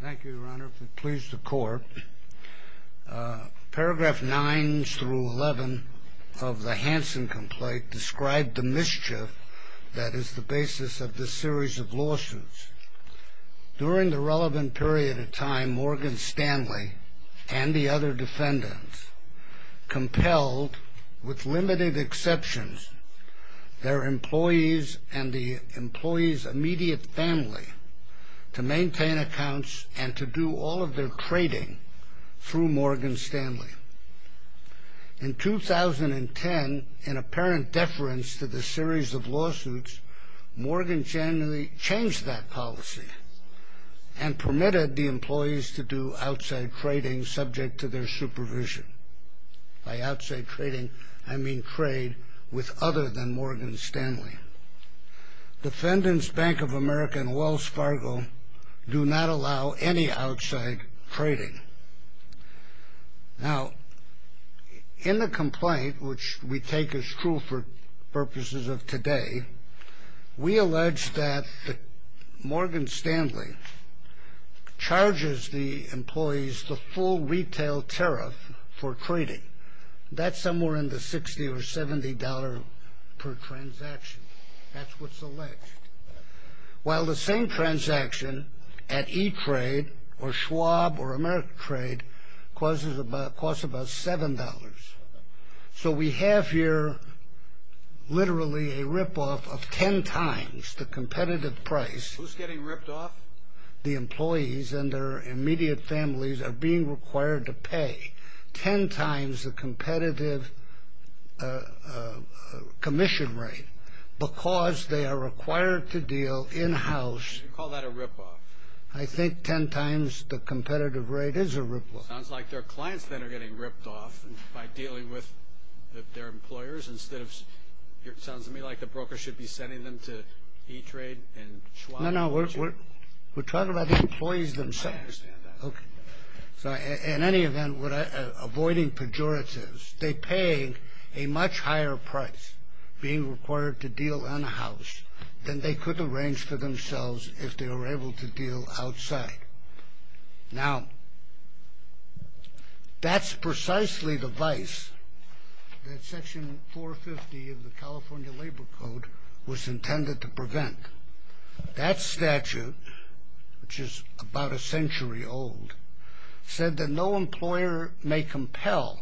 Thank you, Your Honor. If it pleases the Court, paragraph 9 through 11 of the Hansen complaint described the mischief that is the basis of this series of lawsuits. During the relevant period of time, Morgan Stanley and the other defendants compelled, with limited exceptions, their employees and the employees' immediate family to maintain accounts and to do all of their trading through Morgan Stanley. In 2010, in apparent deference to the series of lawsuits, Morgan Stanley changed that policy and permitted the employees to do outside trading subject to their supervision. By outside trading, I mean trade with other than Morgan Stanley. Defendants Bank of America and Wells Fargo do not allow any outside trading. Now, in the complaint, which we take as true for purposes of today, we allege that Morgan Stanley charges the employees the full retail tariff for trading. That's somewhere in the $60 or $70 per transaction. That's what's alleged. While the same transaction at E-Trade or Schwab or American Trade costs about $7. So we have here literally a rip-off of 10 times the competitive price. Who's getting ripped off? The employees and their immediate families are being required to pay 10 times the competitive commission rate because they are required to deal in-house. You call that a rip-off? I think 10 times the competitive rate is a rip-off. Sounds like their clients then are getting ripped off by dealing with their employers instead of... It sounds to me like the broker should be sending them to E-Trade and Schwab. No, no, we're talking about the employees themselves. I understand that. In any event, avoiding pejoratives, they pay a much higher price being required to deal in-house than they could arrange for themselves if they were able to deal outside. Now, that's precisely the vice that Section 450 of the California Labor Code was intended to prevent. That statute, which is about a century old, said that no employer may compel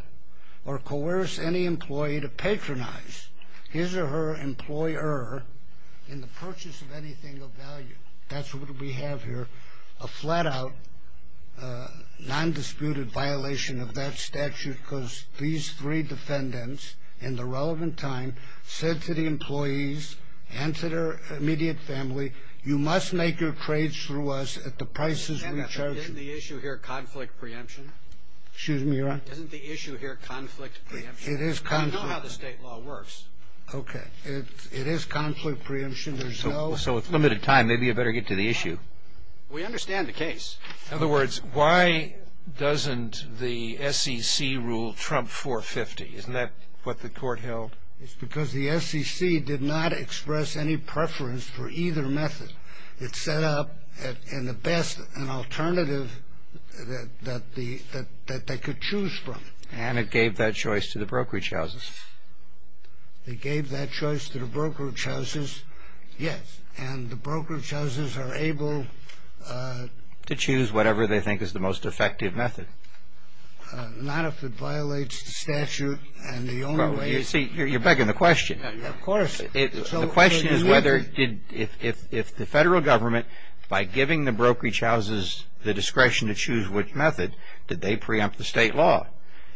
or coerce any employee to patronize his or her employer in the purchase of anything of value. That's what we have here, a flat-out non-disputed violation of that statute because these three defendants in the relevant time said to the employees and to their immediate family, you must make your trades through us at the prices we charge you. Isn't the issue here conflict preemption? Excuse me, Your Honor? Isn't the issue here conflict preemption? I know how the state law works. Okay, it is conflict preemption. So with limited time, maybe you better get to the issue. We understand the case. In other words, why doesn't the SEC rule Trump 450? Isn't that what the court held? It's because the SEC did not express any preference for either method. It set up, in the best, an alternative that they could choose from. And it gave that choice to the brokerage houses. It gave that choice to the brokerage houses, yes. And the brokerage houses are able to choose whatever they think is the most effective method. Not if it violates the statute. You see, you're begging the question. Of course. The question is if the federal government, by giving the brokerage houses the discretion to choose which method, did they preempt the state law?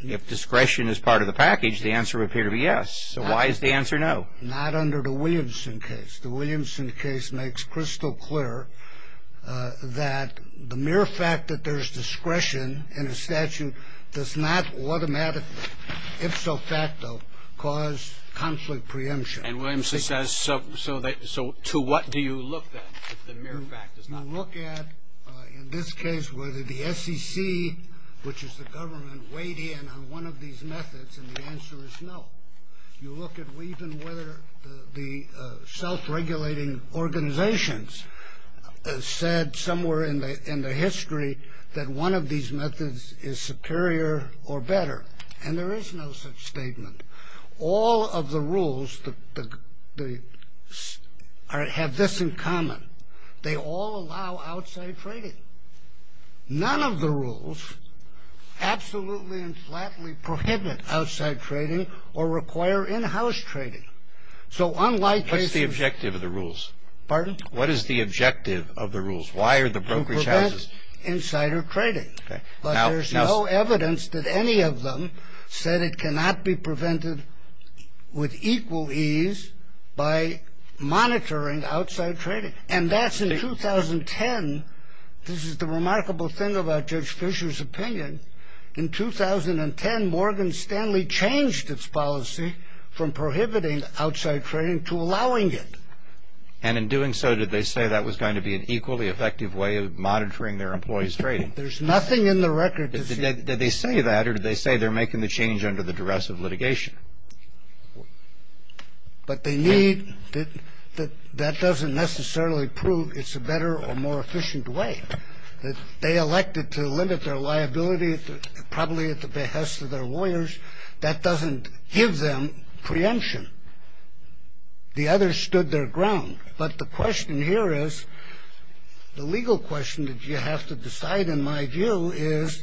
If discretion is part of the package, the answer would appear to be yes. So why is the answer no? Not under the Williamson case. The Williamson case makes crystal clear that the mere fact that there's discretion in a statute does not automatically, if so facto, cause conflict preemption. And Williamson says, so to what do you look at if the mere fact does not? You look at, in this case, whether the SEC, which is the government, weighed in on one of these methods, and the answer is no. You look at even whether the self-regulating organizations said somewhere in the history that one of these methods is superior or better. And there is no such statement. All of the rules have this in common. They all allow outside trading. None of the rules absolutely and flatly prohibit outside trading or require in-house trading. So unlike cases... What's the objective of the rules? Pardon? What is the objective of the rules? Why are the brokerage houses... To prevent insider trading. But there's no evidence that any of them said it cannot be prevented with equal ease by monitoring outside trading. And that's in 2010. This is the remarkable thing about Judge Fisher's opinion. In 2010, Morgan Stanley changed its policy from prohibiting outside trading to allowing it. And in doing so, did they say that was going to be an equally effective way of monitoring their employees' trading? There's nothing in the record... Did they say that, or did they say they're making the change under the duress of litigation? But they need... That doesn't necessarily prove it's a better or more efficient way. They elected to limit their liability probably at the behest of their lawyers. That doesn't give them preemption. The others stood their ground. But the question here is... The legal question that you have to decide, in my view, is...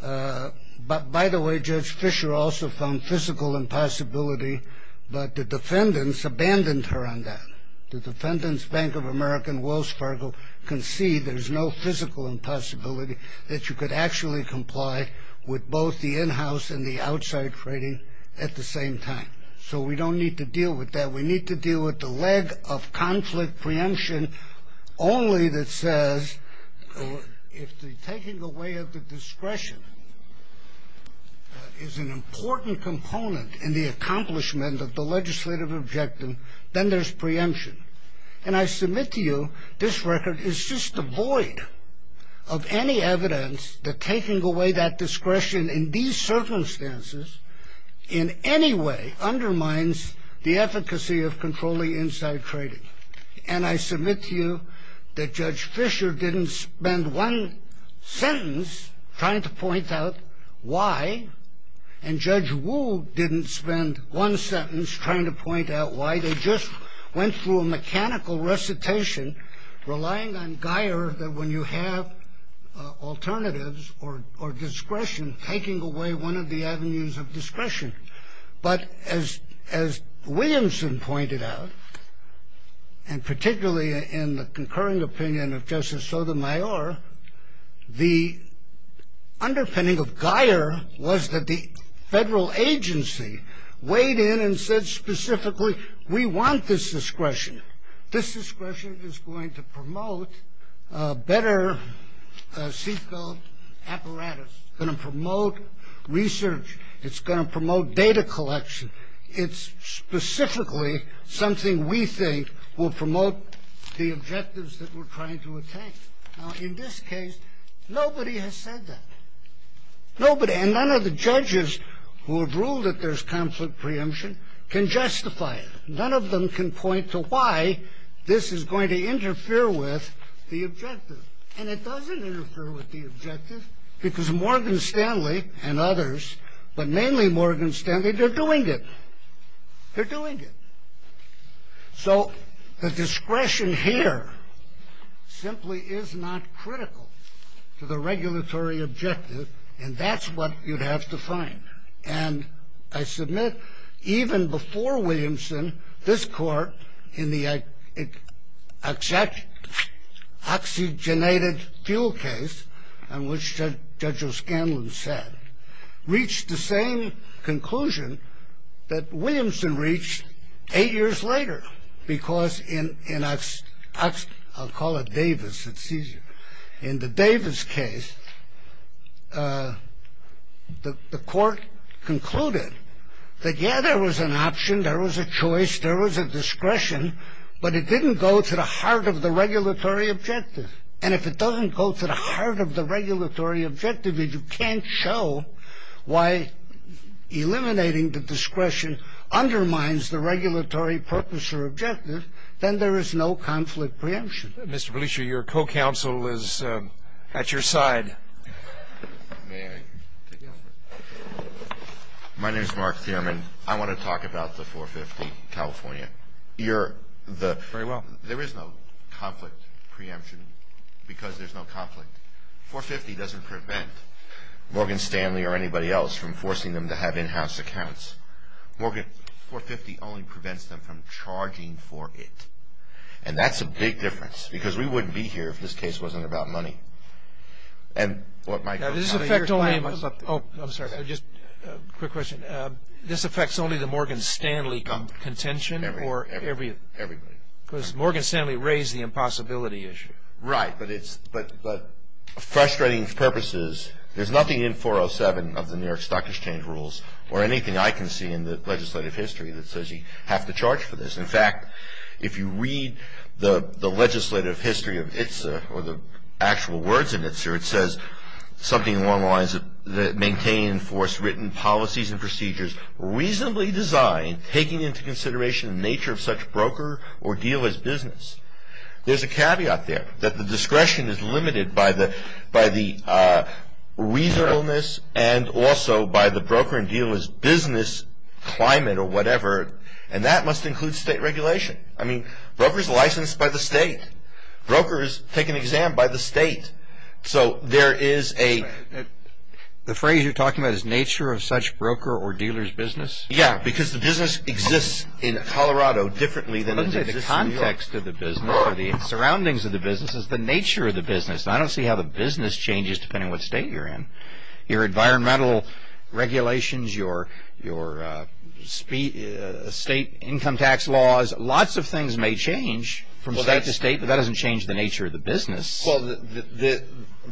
By the way, Judge Fisher also found physical impossibility, but the defendants abandoned her on that. The defendants, Bank of America and Wells Fargo, concede there's no physical impossibility that you could actually comply with both the in-house and the outside trading at the same time. So we don't need to deal with that. We need to deal with the leg of conflict preemption only that says... If the taking away of the discretion is an important component in the accomplishment of the legislative objective, then there's preemption. And I submit to you, this record is just devoid of any evidence that taking away that discretion in these circumstances in any way undermines the efficacy of controlling inside trading. And I submit to you that Judge Fisher didn't spend one sentence trying to point out why, and Judge Wu didn't spend one sentence trying to point out why. They just went through a mechanical recitation relying on Geier that when you have alternatives or discretion, then taking away one of the avenues of discretion. But as Williamson pointed out, and particularly in the concurring opinion of Justice Sotomayor, the underpinning of Geier was that the federal agency weighed in and said specifically, we want this discretion. This discretion is going to promote a better CCO apparatus, it's going to promote research, it's going to promote data collection. It's specifically something we think will promote the objectives that we're trying to attain. Now in this case, nobody has said that. Nobody, and none of the judges who have ruled that there's conflict preemption can justify it. None of them can point to why this is going to interfere with the objective. And it doesn't interfere with the objective because Morgan Stanley and others, but mainly Morgan Stanley, they're doing it. They're doing it. So the discretion here simply is not critical to the regulatory objective and that's what you'd have to find. And I submit, even before Williamson, this court in the oxygenated fuel case on which Judge O'Scanlan said, reached the same conclusion that Williamson reached eight years later because in, I'll call it Davis, it's easier. In the Davis case, the court concluded that yeah, there was an option, there was a choice, there was a discretion, but it didn't go to the heart of the regulatory objective. And if it doesn't go to the heart of the regulatory objective and you can't show why eliminating the discretion undermines the regulatory purpose or objective, then there is no conflict preemption. Mr. Belushi, your co-counsel is at your side. May I take over? My name is Mark Thierman. I want to talk about the 450 California. You're the... Very well. There is no conflict preemption because there's no conflict. 450 doesn't prevent Morgan Stanley or anybody else from forcing them to have in-house accounts. 450 only prevents them from charging for it. And that's a big difference because we wouldn't be here if this case wasn't about money. This affects only... I'm sorry, just a quick question. This affects only the Morgan Stanley contention? Everybody. Everybody. Because Morgan Stanley raised the impossibility issue. Right, but it's... Frustrating purpose is there's nothing in 407 of the New York Stock Exchange rules or anything I can see in the legislative history that says you have to charge for this. In fact, if you read the legislative history of ITSA or the actual words in ITSA, it says something along the lines of maintain, enforce written policies and procedures reasonably designed taking into consideration the nature of such broker or dealer's business. There's a caveat there that the discretion is limited by the reasonableness and also by the broker and dealer's business climate or whatever and that must include state regulation. I mean, brokers are licensed by the state. Brokers take an exam by the state. So, there is a... The phrase you're talking about is nature of such broker or dealer's business? Yeah, because the business exists in Colorado differently than... The context of the business or the surroundings of the business is the nature of the business. I don't see how the business changes depending on what state you're in. Your environmental regulations, your state income tax laws, lots of things may change from state to state but that doesn't change the nature of the business. Well,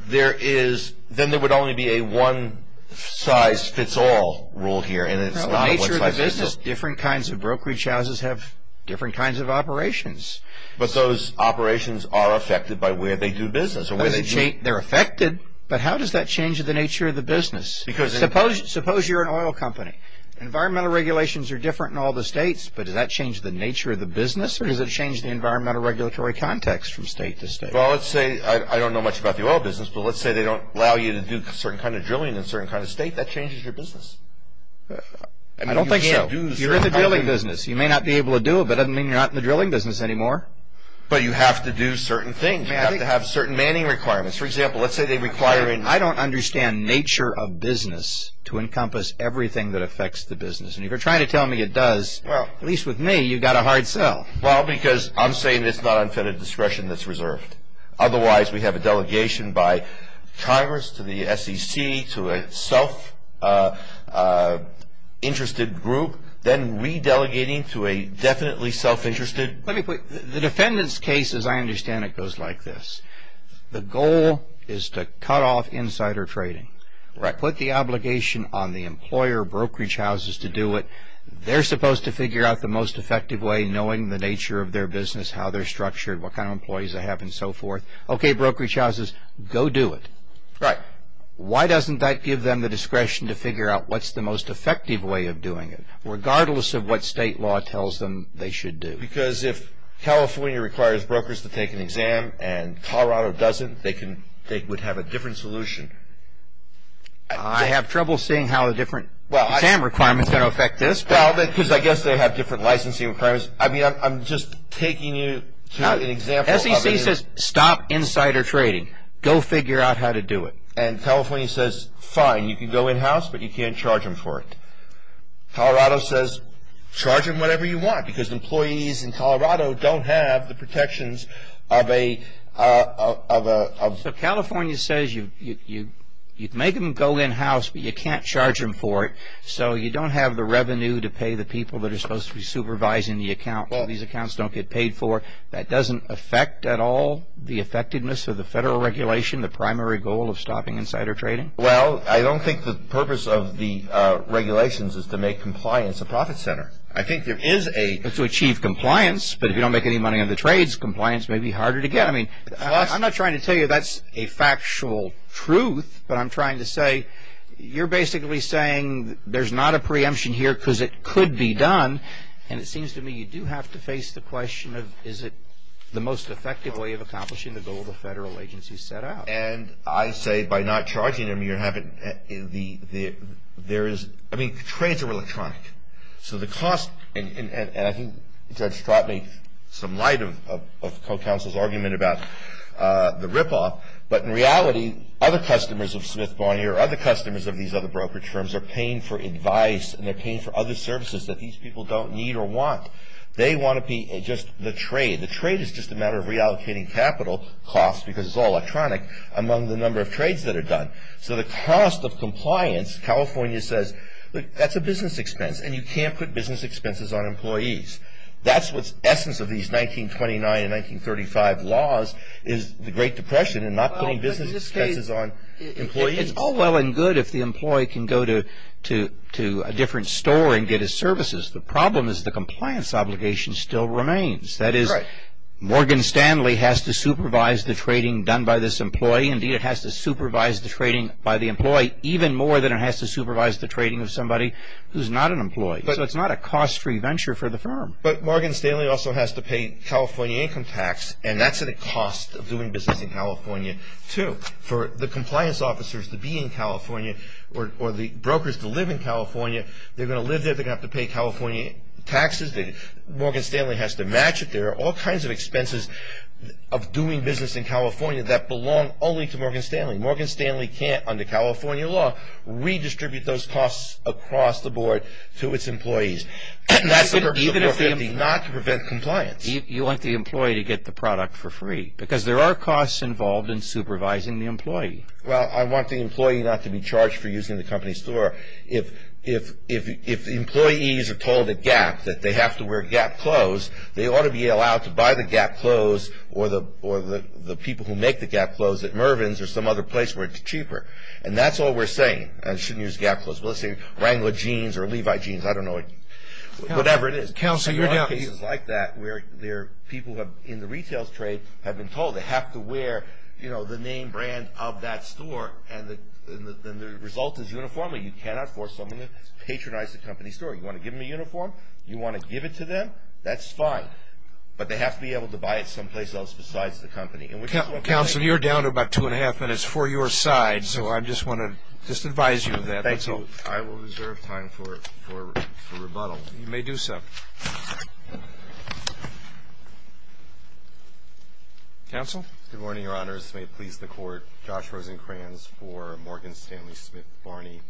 there is... Then there would only be a one-size-fits-all rule here and it's not what's licensed. Different kinds of brokerage houses have different kinds of operations. But those operations are affected by where they do business. They're affected but how does that change the nature of the business? Because... Suppose you're an oil company. Environmental regulations are different in all the states but does that change the nature of the business or does it change the environmental regulatory context from state to state? Well, let's say... I don't know much about the oil business but let's say they don't allow you to do a certain kind of drilling in a certain kind of state, that changes your business. I don't think so. You're in the drilling business. You may not be able to do it but it doesn't mean you're not in the drilling business anymore. But you have to do certain things. You have to have certain manning requirements. For example, let's say they require... I don't understand nature of business to encompass everything that affects the business. And if you're trying to tell me it does, at least with me, you've got a hard sell. Well, because I'm saying it's not unfettered discretion that's reserved. Otherwise, we have a delegation by Congress to the SEC to a self-interested group then re-delegating to a definitely self-interested... Let me put... The defendant's case, as I understand it, goes like this. The goal is to cut off insider trading. Put the obligation on the employer, brokerage houses to do it. They're supposed to figure out the most effective way knowing the nature of their business, how they're structured, what kind of employees they have and so forth. Okay, brokerage houses, go do it. Right. Why doesn't that give them the discretion to figure out what's the most effective way of doing it regardless of what state law tells them they should do? Because if California requires brokers to take an exam and Colorado doesn't, they would have a different solution. I have trouble seeing how a different exam requirement is going to affect this. Well, because I guess they have different licensing requirements. I mean, I'm just taking you to an example... SEC says stop insider trading. Go figure out how to do it. And California says, fine, you can go in-house, but you can't charge them for it. Colorado says, charge them whatever you want because employees in Colorado don't have the protections of a... So California says you make them go in-house, but you can't charge them for it, so you don't have the revenue to pay the people that are supposed to be supervising the account. These accounts don't get paid for. That doesn't affect at all the effectiveness of the federal regulation, the primary goal of stopping insider trading? Well, I don't think the purpose of the regulations is to make compliance a profit center. I think there is a... To achieve compliance, but if you don't make any money on the trades, compliance may be harder to get. I mean, I'm not trying to tell you that's a factual truth, but I'm trying to say you're basically saying there's not a preemption here because it could be done, and it seems to me you do have to face the question of is it the most effective way of accomplishing the goal the federal agency set out? And I say by not charging them, you're having... There is... I mean, the trades are electronic, so the cost... And I think that's brought me some light of the co-counsel's argument about the rip-off, but in reality, other customers of Smith-Barnier or other customers of these other brokerage firms are paying for advice, and they're paying for other services that these people don't need or want. They want to be just the trade. The trade is just a matter of reallocating capital costs because it's all electronic among the number of trades that are done. So the cost of compliance, California says, that's a business expense, and you can't put business expenses on employees. That's what's the essence of these 1929 and 1935 laws is the Great Depression and not putting business expenses on employees. It's all well and good if the employee can go to a different store and get his services. The problem is the compliance obligation still remains. That is, Morgan Stanley has to supervise the trading done by this employee. Indeed, it has to supervise the trading by the employee even more than it has to supervise the trading of somebody who's not an employee. So it's not a cost-free venture for the firm. But Morgan Stanley also has to pay California income tax, and that's at a cost of doing business in California, too. For the compliance officers to be in California or the brokers to live in California, they're going to live there. They're going to have to pay California taxes. Morgan Stanley has to match it. There are all kinds of expenses of doing business in California that belong only to Morgan Stanley. Morgan Stanley can't, under California law, redistribute those costs across the board to its employees. That's the purpose of 450, not to prevent compliance. You want the employee to get the product for free because there are costs involved in supervising the employee. Well, I want the employee not to be charged for using the company's store if employees are told at Gap that they have to wear Gap clothes, they ought to be allowed to buy the Gap clothes or the people who make the Gap clothes at Mervyn's or some other place where it's cheaper. And that's all we're saying. I shouldn't use Gap clothes. Let's say Wrangler jeans or Levi jeans. I don't know. Whatever it is. There are cases like that where people in the retail trade have been told they have to wear the name brand of that store, and the result is uniform. Normally you cannot force someone to patronize the company store. You want to give them a uniform? You want to give it to them? That's fine. But they have to be able to buy it someplace else besides the company. Counsel, you're down to about two and a half minutes for your side, so I just want to just advise you of that. Thank you. I will reserve time for rebuttal. You may do so. Counsel? Good morning, Your Honors. May it please the Court. Josh Rosenkranz for Morgan Stanley Smith Barney.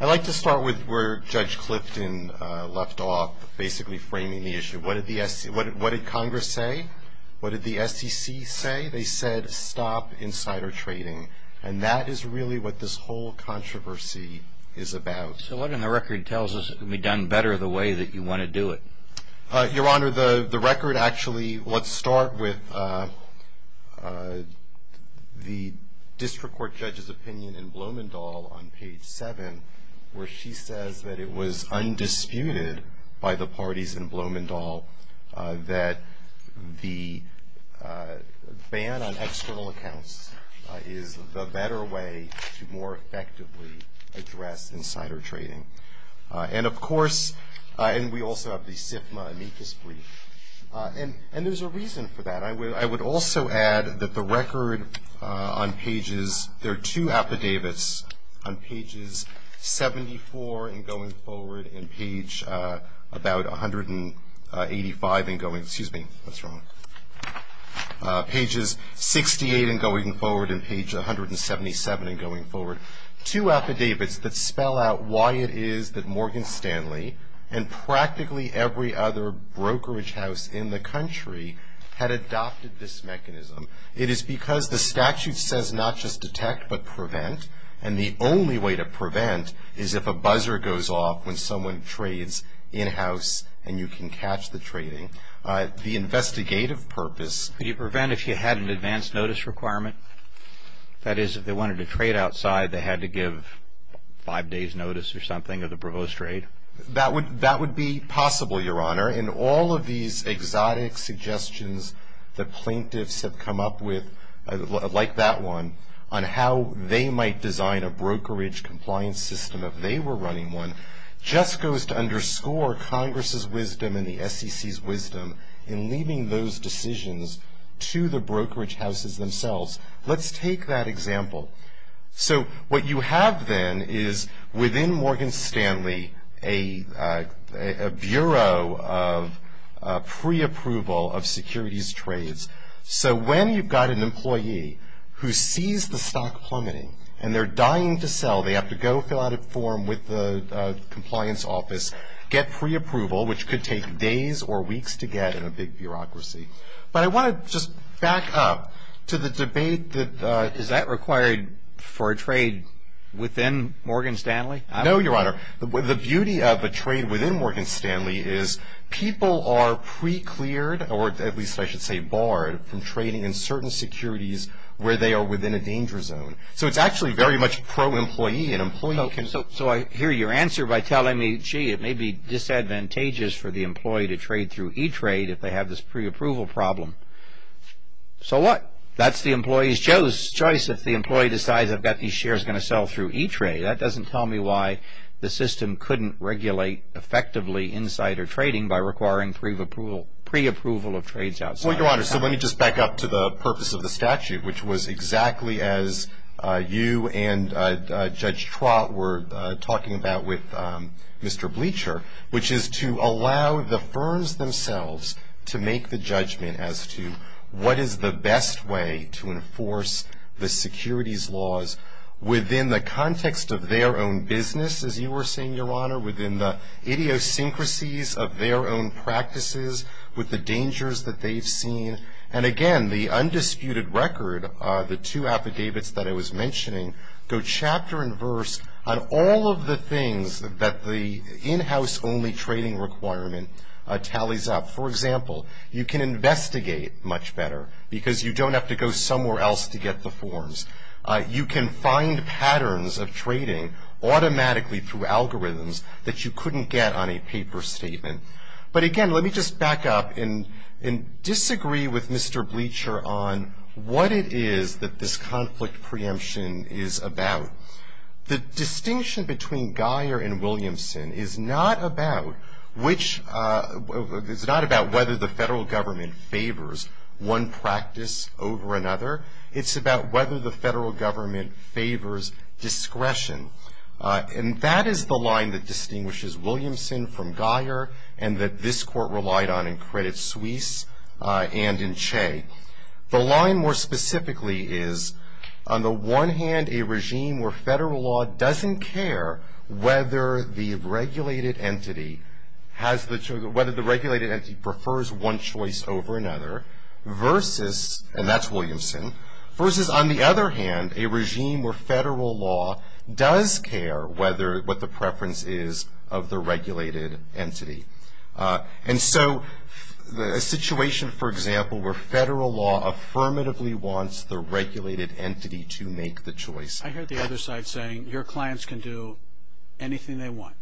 I'd like to start with where Judge Clifton left off, basically framing the issue. What did Congress say? What did the SEC say? They said stop insider trading. And that is really what this whole controversy is about. So what in the record tells us it can be done better the way that you want to do it? Your Honor, the record actually, let's start with the district court judge's opinion in Blumenthal on page seven, where she says that it was undisputed by the parties in Blumenthal that the ban on external accounts is the better way to more effectively address insider trading. And, of course, and we also have the SIFMA amicus brief. And there's a reason for that. I would also add that the record on pages, there are two affidavits on pages 74 and going forward and page about 185 and going, excuse me, that's wrong, pages 68 and going forward and page 177 and going forward, two affidavits that spell out why it is that Morgan Stanley and practically every other brokerage house in the country had adopted this mechanism. It is because the statute says not just detect but prevent. And the only way to prevent is if a buzzer goes off when someone trades in-house and you can catch the trading. The investigative purpose. Could you prevent if you had an advance notice requirement? That is, if they wanted to trade outside, they had to give five days notice or something of the provost trade? That would be possible, Your Honor. And all of these exotic suggestions that plaintiffs have come up with, like that one, on how they might design a brokerage compliance system if they were running one, just goes to underscore Congress's wisdom and the SEC's wisdom in leaving those decisions to the brokerage houses themselves. Let's take that example. So what you have then is within Morgan Stanley a bureau of preapproval of securities trades. So when you've got an employee who sees the stock plummeting and they're dying to sell, they have to go fill out a form with the compliance office, get preapproval, which could take days or weeks to get in a big bureaucracy. But I want to just back up to the debate that is that required for a trade within Morgan Stanley? No, Your Honor. The beauty of a trade within Morgan Stanley is people are precleared, or at least I should say barred, from trading in certain securities where they are within a danger zone. So it's actually very much pro-employee. So I hear your answer by telling me, gee, it may be disadvantageous for the employee to trade through E-Trade if they have this preapproval problem. So what? That's the employee's choice if the employee decides I've got these shares going to sell through E-Trade. That doesn't tell me why the system couldn't regulate effectively insider trading by requiring preapproval of trades outside. Well, Your Honor, so let me just back up to the purpose of the statute, which was exactly as you and Judge Trott were talking about with Mr. Bleacher, which is to allow the firms themselves to make the judgment as to what is the best way to enforce the securities laws within the context of their own business, as you were saying, Your Honor, within the idiosyncrasies of their own practices with the dangers that they've seen. And again, the undisputed record, the two affidavits that I was mentioning, go chapter and verse on all of the things that the in-house only trading requirement tallies up. For example, you can investigate much better because you don't have to go somewhere else to get the forms. You can find patterns of trading automatically through algorithms that you couldn't get on a paper statement. But again, let me just back up and disagree with Mr. Bleacher on what it is that this conflict preemption is about. The distinction between Guyer and Williamson is not about whether the federal government favors one practice over another. It's about whether the federal government favors discretion. And that is the line that distinguishes Williamson from Guyer and that this court relied on in Credit Suisse and in Che. The line more specifically is, on the one hand, a regime where federal law doesn't care whether the regulated entity has the whether the regulated entity prefers one choice over another versus, and that's Williamson, versus, on the other hand, a regime where federal law does care what the preference is of the regulated entity. And so a situation, for example, where federal law affirmatively wants the regulated entity to make the choice. I hear the other side saying, your clients can do anything they want.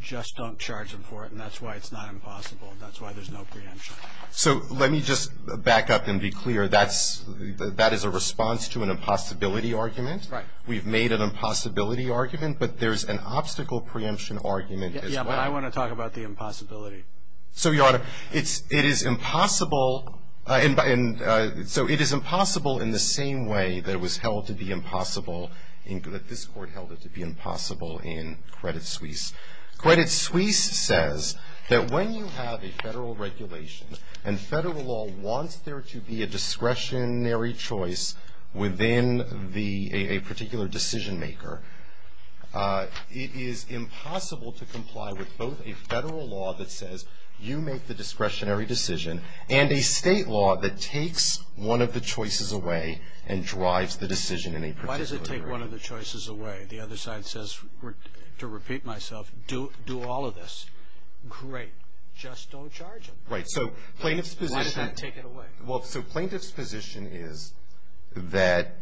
Just don't charge them for it, and that's why it's not impossible. That's why there's no preemption. So let me just back up and be clear. That is a response to an impossibility argument. Right. We've made an impossibility argument, but there's an obstacle preemption argument as well. Yeah, but I want to talk about the impossibility. So, Your Honor, it is impossible. So it is impossible in the same way that it was held to be impossible, that this court held it to be impossible in Credit Suisse. Credit Suisse says that when you have a federal regulation and federal law wants there to be a discretionary choice within a particular decision maker, it is impossible to comply with both a federal law that says you make the discretionary decision and a state law that takes one of the choices away and drives the decision in a particular direction. Why does it take one of the choices away? The other side says, to repeat myself, do all of this. Great. Just don't charge them. Right. So plaintiff's position. Why does that take it away? Well, so plaintiff's position is that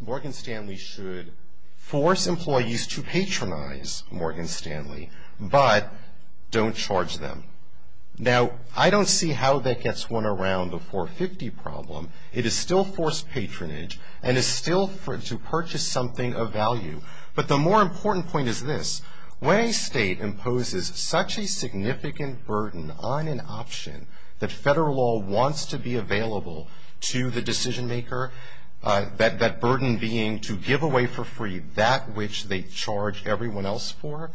Morgan Stanley should force employees to patronize Morgan Stanley, but don't charge them. Now, I don't see how that gets one around the 450 problem. It is still forced patronage and is still to purchase something of value. But the more important point is this. When a state imposes such a significant burden on an option that federal law wants to be available to the decision maker, that burden being to give away for free that which they charge everyone else for,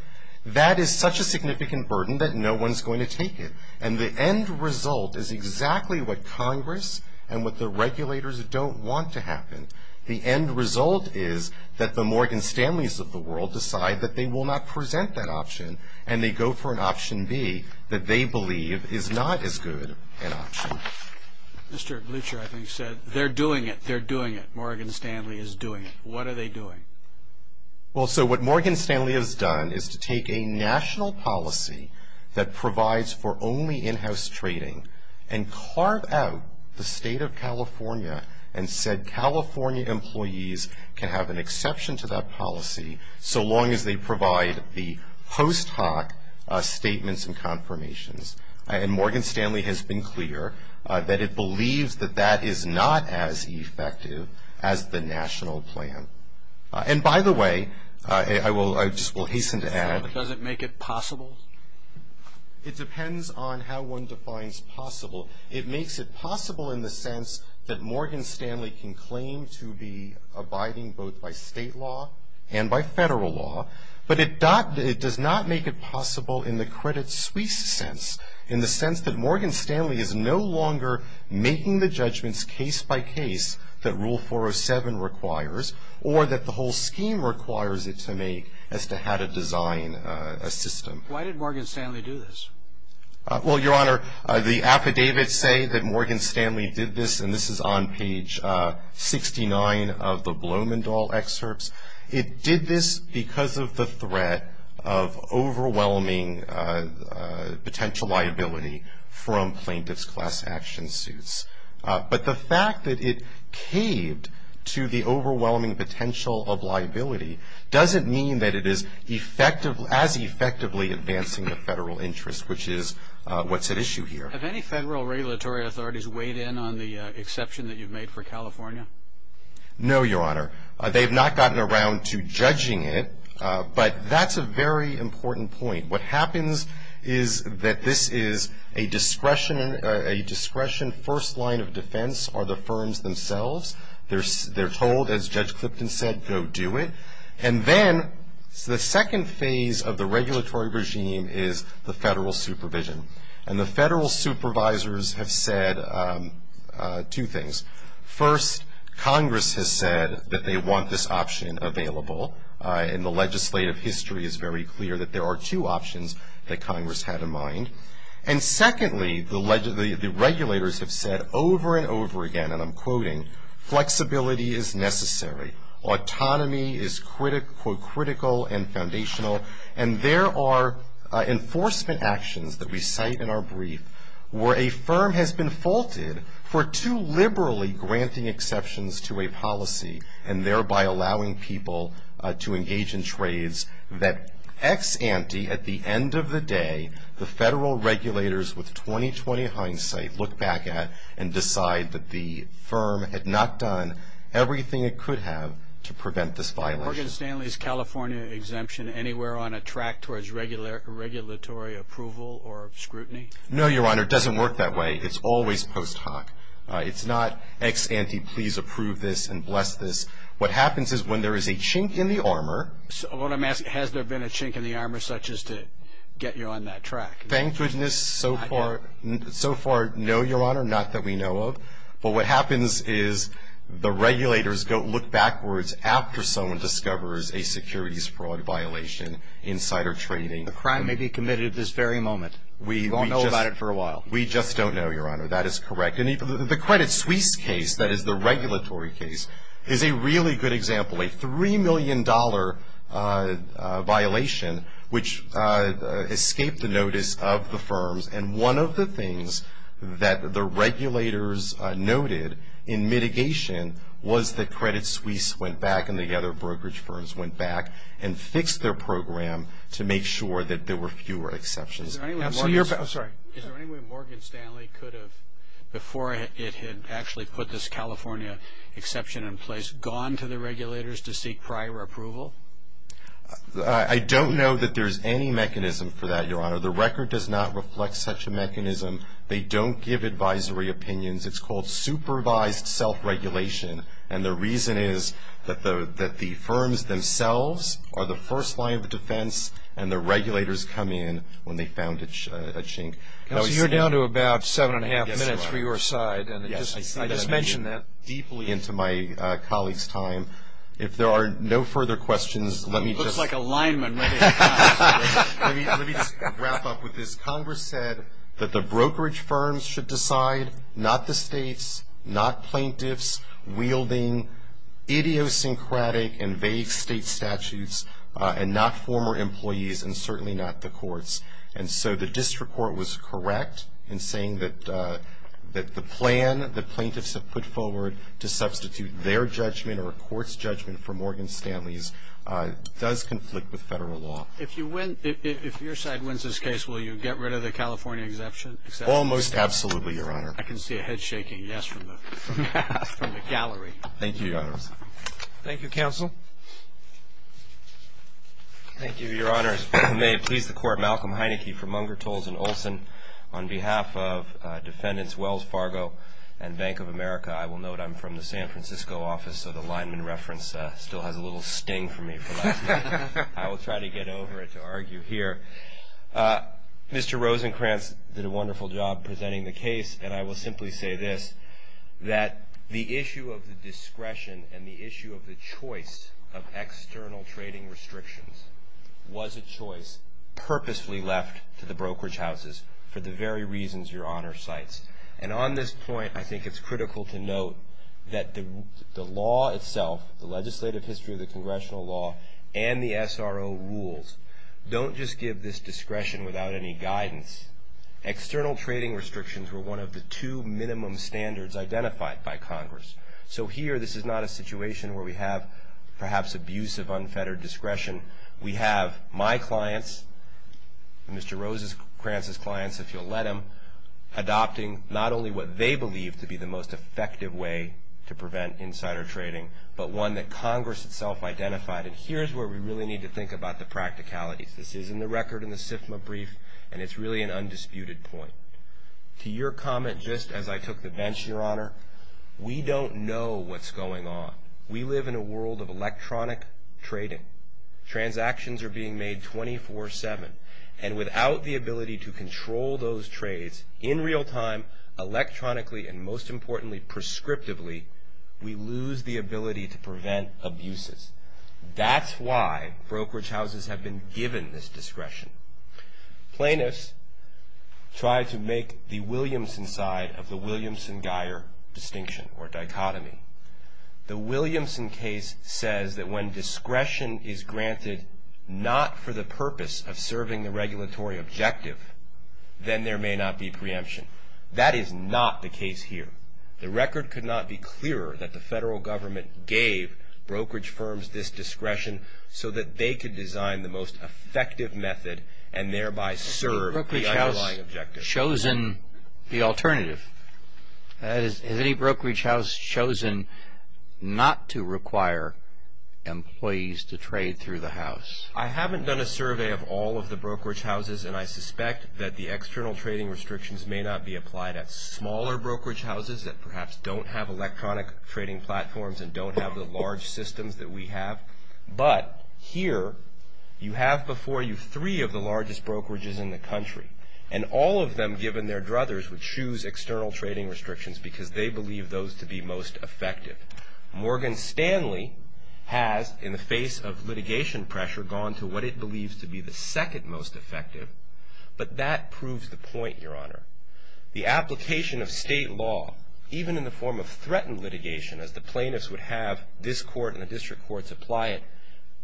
that is such a significant burden that no one is going to take it. And the end result is exactly what Congress and what the regulators don't want to happen. The end result is that the Morgan Stanleys of the world decide that they will not present that option, and they go for an option B that they believe is not as good an option. Mr. Blucher, I think, said they're doing it. They're doing it. Morgan Stanley is doing it. What are they doing? Well, so what Morgan Stanley has done is to take a national policy that provides for only in-house trading and carve out the state of California and said California employees can have an exception to that policy so long as they provide the post hoc statements and confirmations. And Morgan Stanley has been clear that it believes that that is not as effective as the national plan. And by the way, I just will hasten to add. Does it make it possible? It depends on how one defines possible. It makes it possible in the sense that Morgan Stanley can claim to be abiding both by state law and by federal law, but it does not make it possible in the credit suite sense, in the sense that Morgan Stanley is no longer making the judgments case by case that Rule 407 requires or that the whole scheme requires it to make as to how to design a system. Why did Morgan Stanley do this? Well, Your Honor, the affidavits say that Morgan Stanley did this, and this is on page 69 of the Blumenthal excerpts. It did this because of the threat of overwhelming potential liability from plaintiff's class action suits. But the fact that it caved to the overwhelming potential of liability doesn't mean that it is as effectively advancing the federal interest, which is what's at issue here. Have any federal regulatory authorities weighed in on the exception that you've made for California? No, Your Honor. They have not gotten around to judging it, but that's a very important point. What happens is that this is a discretion first line of defense are the firms themselves. They're told, as Judge Clipton said, go do it. And then the second phase of the regulatory regime is the federal supervision. And the federal supervisors have said two things. First, Congress has said that they want this option available, and the legislative history is very clear that there are two options that Congress had in mind. And secondly, the regulators have said over and over again, and I'm quoting, flexibility is necessary. Autonomy is critical and foundational. And there are enforcement actions that we cite in our brief where a firm has been faulted for too liberally granting exceptions to a policy and thereby allowing people to engage in trades that ex ante at the end of the day, the federal regulators with 20-20 hindsight look back at and decide that the firm had not done everything it could have to prevent this violation. Is Morgan Stanley's California exemption anywhere on a track towards regulatory approval or scrutiny? No, Your Honor. It doesn't work that way. It's always post hoc. It's not ex ante, please approve this and bless this. What happens is when there is a chink in the armor. I want to ask, has there been a chink in the armor such as to get you on that track? Thank goodness so far, no, Your Honor, not that we know of. But what happens is the regulators go look backwards after someone discovers a securities fraud violation insider trading. The crime may be committed at this very moment. We won't know about it for a while. We just don't know, Your Honor. That is correct. And the Credit Suisse case, that is the regulatory case, is a really good example. A $3 million violation which escaped the notice of the firms. And one of the things that the regulators noted in mitigation was that Credit Suisse went back and the other brokerage firms went back and fixed their program to make sure that there were fewer exceptions. Is there any way Morgan Stanley could have, before it had actually put this California exception in place, gone to the regulators to seek prior approval? I don't know that there's any mechanism for that, Your Honor. The record does not reflect such a mechanism. They don't give advisory opinions. It's called supervised self-regulation. And the reason is that the firms themselves are the first line of defense, and the regulators come in when they found a chink. Counsel, you're down to about seven and a half minutes for your side. Yes, Your Honor. I just mentioned that deeply into my colleague's time. If there are no further questions, let me just. I feel like a lineman right now. Let me just wrap up with this. Congress said that the brokerage firms should decide, not the states, not plaintiffs, wielding idiosyncratic and vague state statutes, and not former employees, and certainly not the courts. And so the district court was correct in saying that the plan that plaintiffs have put forward to substitute their judgment or a court's judgment for Morgan Stanley's does conflict with federal law. If your side wins this case, will you get rid of the California exemption? Almost absolutely, Your Honor. I can see a head-shaking yes from the gallery. Thank you, Your Honors. Thank you, Counsel. Thank you, Your Honors. May it please the Court, Malcolm Heineke from Unger, Tolson, Olson. On behalf of defendants Wells Fargo and Bank of America, I will note I'm from the San Francisco office, so the lineman reference still has a little sting for me. I will try to get over it to argue here. Mr. Rosenkranz did a wonderful job presenting the case, and I will simply say this, that the issue of the discretion and the issue of the choice of external trading restrictions was a choice purposefully left to the brokerage houses for the very reasons Your Honor cites. And on this point, I think it's critical to note that the law itself, the legislative history of the congressional law and the SRO rules, don't just give this discretion without any guidance. External trading restrictions were one of the two minimum standards identified by Congress. So here, this is not a situation where we have perhaps abuse of unfettered discretion. We have my clients, Mr. Rosenkranz's clients, if you'll let him, adopting not only what they believe to be the most effective way to prevent insider trading, but one that Congress itself identified. And here's where we really need to think about the practicalities. This is in the record in the SIFMA brief, and it's really an undisputed point. To your comment, just as I took the bench, Your Honor, we don't know what's going on. We live in a world of electronic trading. Transactions are being made 24-7, and without the ability to control those trades in real time, electronically, and most importantly, prescriptively, we lose the ability to prevent abuses. That's why brokerage houses have been given this discretion. Plaintiffs try to make the Williamson side of the Williamson-Geyer distinction or dichotomy. The Williamson case says that when discretion is granted not for the purpose of serving the regulatory objective, then there may not be preemption. That is not the case here. The record could not be clearer that the federal government gave brokerage firms this discretion so that they could design the most effective method and thereby serve the underlying objective. Has any brokerage house chosen the alternative? Has any brokerage house chosen not to require employees to trade through the house? I haven't done a survey of all of the brokerage houses, and I suspect that the external trading restrictions may not be applied at smaller brokerage houses that perhaps don't have electronic trading platforms and don't have the large systems that we have. But here, you have before you three of the largest brokerages in the country, and all of them, given their druthers, would choose external trading restrictions because they believe those to be most effective. Morgan Stanley has, in the face of litigation pressure, gone to what it believes to be the second most effective, but that proves the point, Your Honor. The application of state law, even in the form of threatened litigation, as the plaintiffs would have this court and the district courts apply it,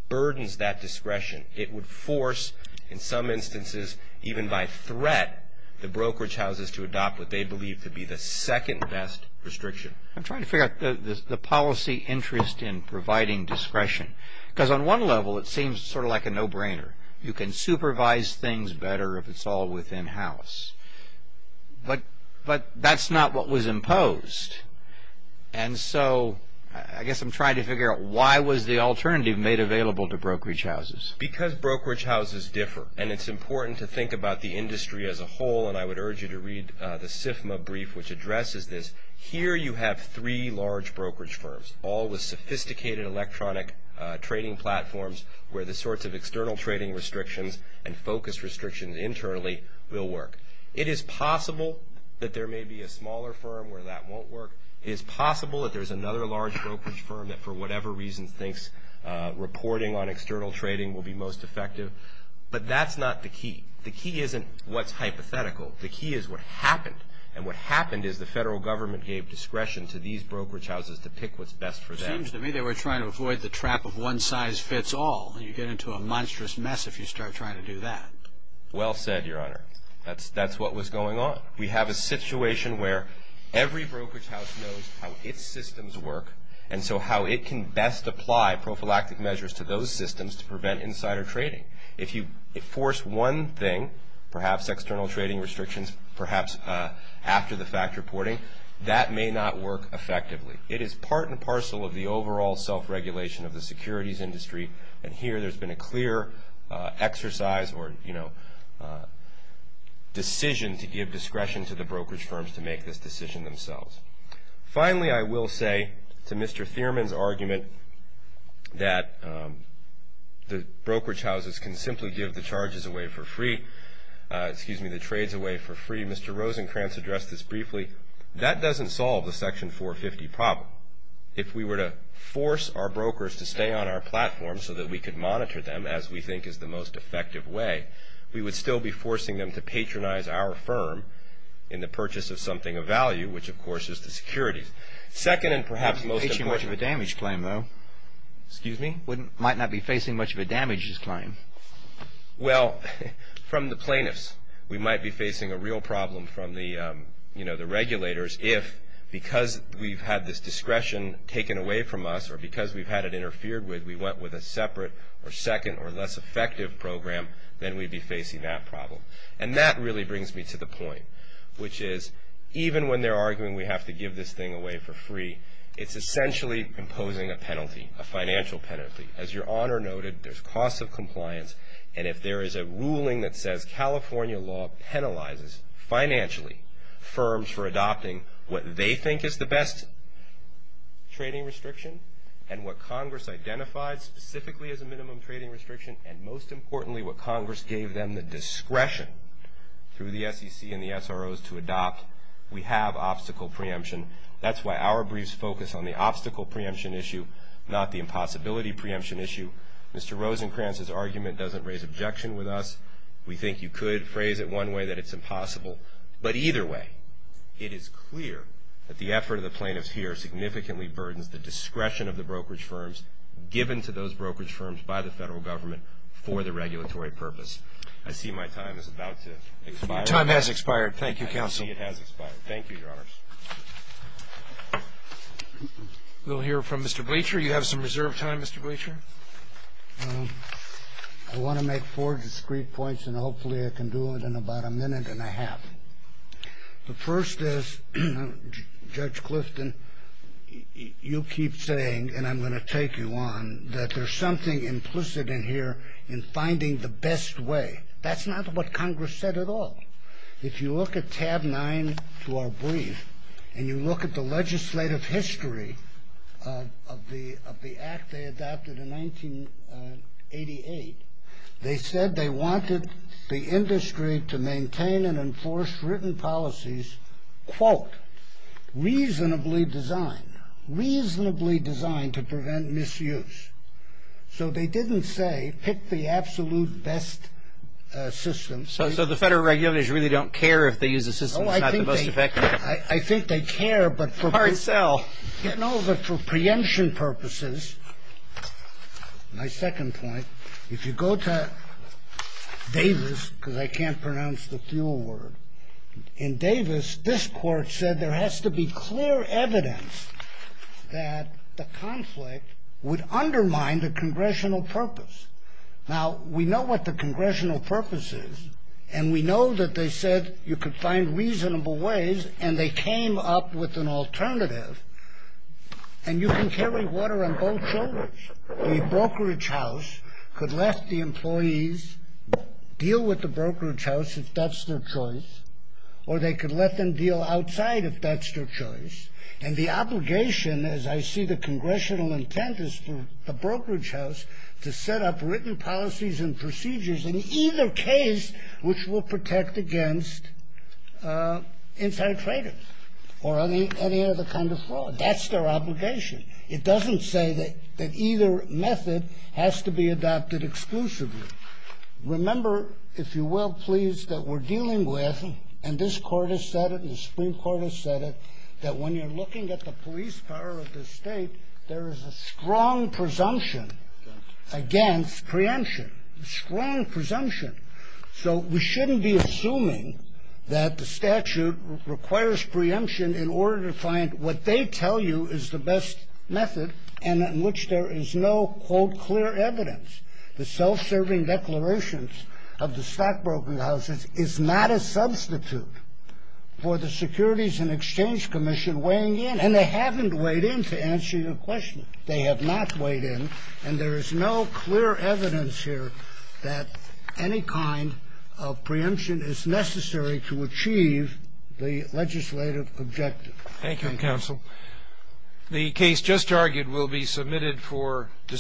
burdens that discretion. It would force, in some instances, even by threat, the brokerage houses to adopt what they believe to be the second best restriction. I'm trying to figure out the policy interest in providing discretion. Because on one level, it seems sort of like a no-brainer. You can supervise things better if it's all within house. But that's not what was imposed. And so, I guess I'm trying to figure out why was the alternative made available to brokerage houses. Because brokerage houses differ, and it's important to think about the industry as a whole, and I would urge you to read the SIFMA brief which addresses this. Here, you have three large brokerage firms, all with sophisticated electronic trading platforms where the sorts of external trading restrictions and focus restrictions internally will work. It is possible that there may be a smaller firm where that won't work. It is possible that there's another large brokerage firm that, for whatever reason, thinks reporting on external trading will be most effective. But that's not the key. The key isn't what's hypothetical. The key is what happened. And what happened is the federal government gave discretion to these brokerage houses to pick what's best for them. It seems to me they were trying to avoid the trap of one size fits all. You get into a monstrous mess if you start trying to do that. Well said, Your Honor. That's what was going on. We have a situation where every brokerage house knows how its systems work and so how it can best apply prophylactic measures to those systems to prevent insider trading. If you force one thing, perhaps external trading restrictions, perhaps after the fact reporting, that may not work effectively. It is part and parcel of the overall self-regulation of the securities industry, and here there's been a clear exercise or, you know, decision to give discretion to the brokerage firms to make this decision themselves. Finally, I will say to Mr. Thierman's argument that the brokerage houses can simply give the charges away for free, excuse me, the trades away for free. Mr. Rosenkranz addressed this briefly. That doesn't solve the Section 450 problem. If we were to force our brokers to stay on our platform so that we could monitor them as we think is the most effective way, we would still be forcing them to patronize our firm in the purchase of something of value, which, of course, is the securities. Second and perhaps most important. You're not facing much of a damage claim, though. Excuse me? Might not be facing much of a damage claim. Well, from the plaintiffs, we might be facing a real problem from the, you know, the regulators if because we've had this discretion taken away from us or because we've had it interfered with, we went with a separate or second or less effective program, then we'd be facing that problem. And that really brings me to the point, which is even when they're arguing we have to give this thing away for free, it's essentially imposing a penalty, a financial penalty. As Your Honor noted, there's costs of compliance, and if there is a ruling that says California law penalizes financially firms for adopting what they think is the best trading restriction and what Congress identified specifically as a minimum trading restriction and most importantly what Congress gave them the discretion through the SEC and the SROs to adopt, we have obstacle preemption. That's why our briefs focus on the obstacle preemption issue, not the impossibility preemption issue. Mr. Rosenkranz's argument doesn't raise objection with us. We think you could phrase it one way that it's impossible, but either way, it is clear that the effort of the plaintiffs here significantly burdens the discretion of the brokerage firms given to those brokerage firms by the federal government for the regulatory purpose. I see my time is about to expire. Your time has expired. Thank you, Counsel. I see it has expired. Thank you, Your Honors. We'll hear from Mr. Bleacher. You have some reserve time, Mr. Bleacher. I want to make four discrete points, and hopefully I can do it in about a minute and a half. The first is, Judge Clifton, you keep saying, and I'm going to take you on, that there's something implicit in here in finding the best way. That's not what Congress said at all. If you look at tab 9 to our brief, and you look at the legislative history of the act they adopted in 1988, they said they wanted the industry to maintain and enforce written policies, quote, reasonably designed, reasonably designed to prevent misuse. So they didn't say pick the absolute best system. So the federal regulators really don't care if they use a system that's not the most effective? I think they care, but for preemption purposes, my second point, if you go to Davis, because I can't pronounce the fuel word, in Davis, this court said there has to be clear evidence that the conflict would undermine the congressional purpose. Now, we know what the congressional purpose is, and we know that they said you could find reasonable ways, and they came up with an alternative, and you can carry water on both shoulders. The brokerage house could let the employees deal with the brokerage house if that's their choice, or they could let them deal outside if that's their choice. And the obligation, as I see the congressional intent, is for the brokerage house to set up written policies and procedures in either case which will protect against inside traders or any other kind of fraud. That's their obligation. It doesn't say that either method has to be adopted exclusively. Remember, if you will, please, that we're dealing with, and this court has said it, and the Supreme Court has said it, that when you're looking at the police power of the state, there is a strong presumption against preemption, a strong presumption. So we shouldn't be assuming that the statute requires preemption in order to find what they tell you is the best method and in which there is no, quote, clear evidence. The self-serving declarations of the stockbroker houses is not a substitute for the Securities and Exchange Commission weighing in, and they haven't weighed in to answer your question. They have not weighed in, and there is no clear evidence here that any kind of preemption is necessary to achieve the legislative objective. Thank you, counsel. The case just argued will be submitted for discussion.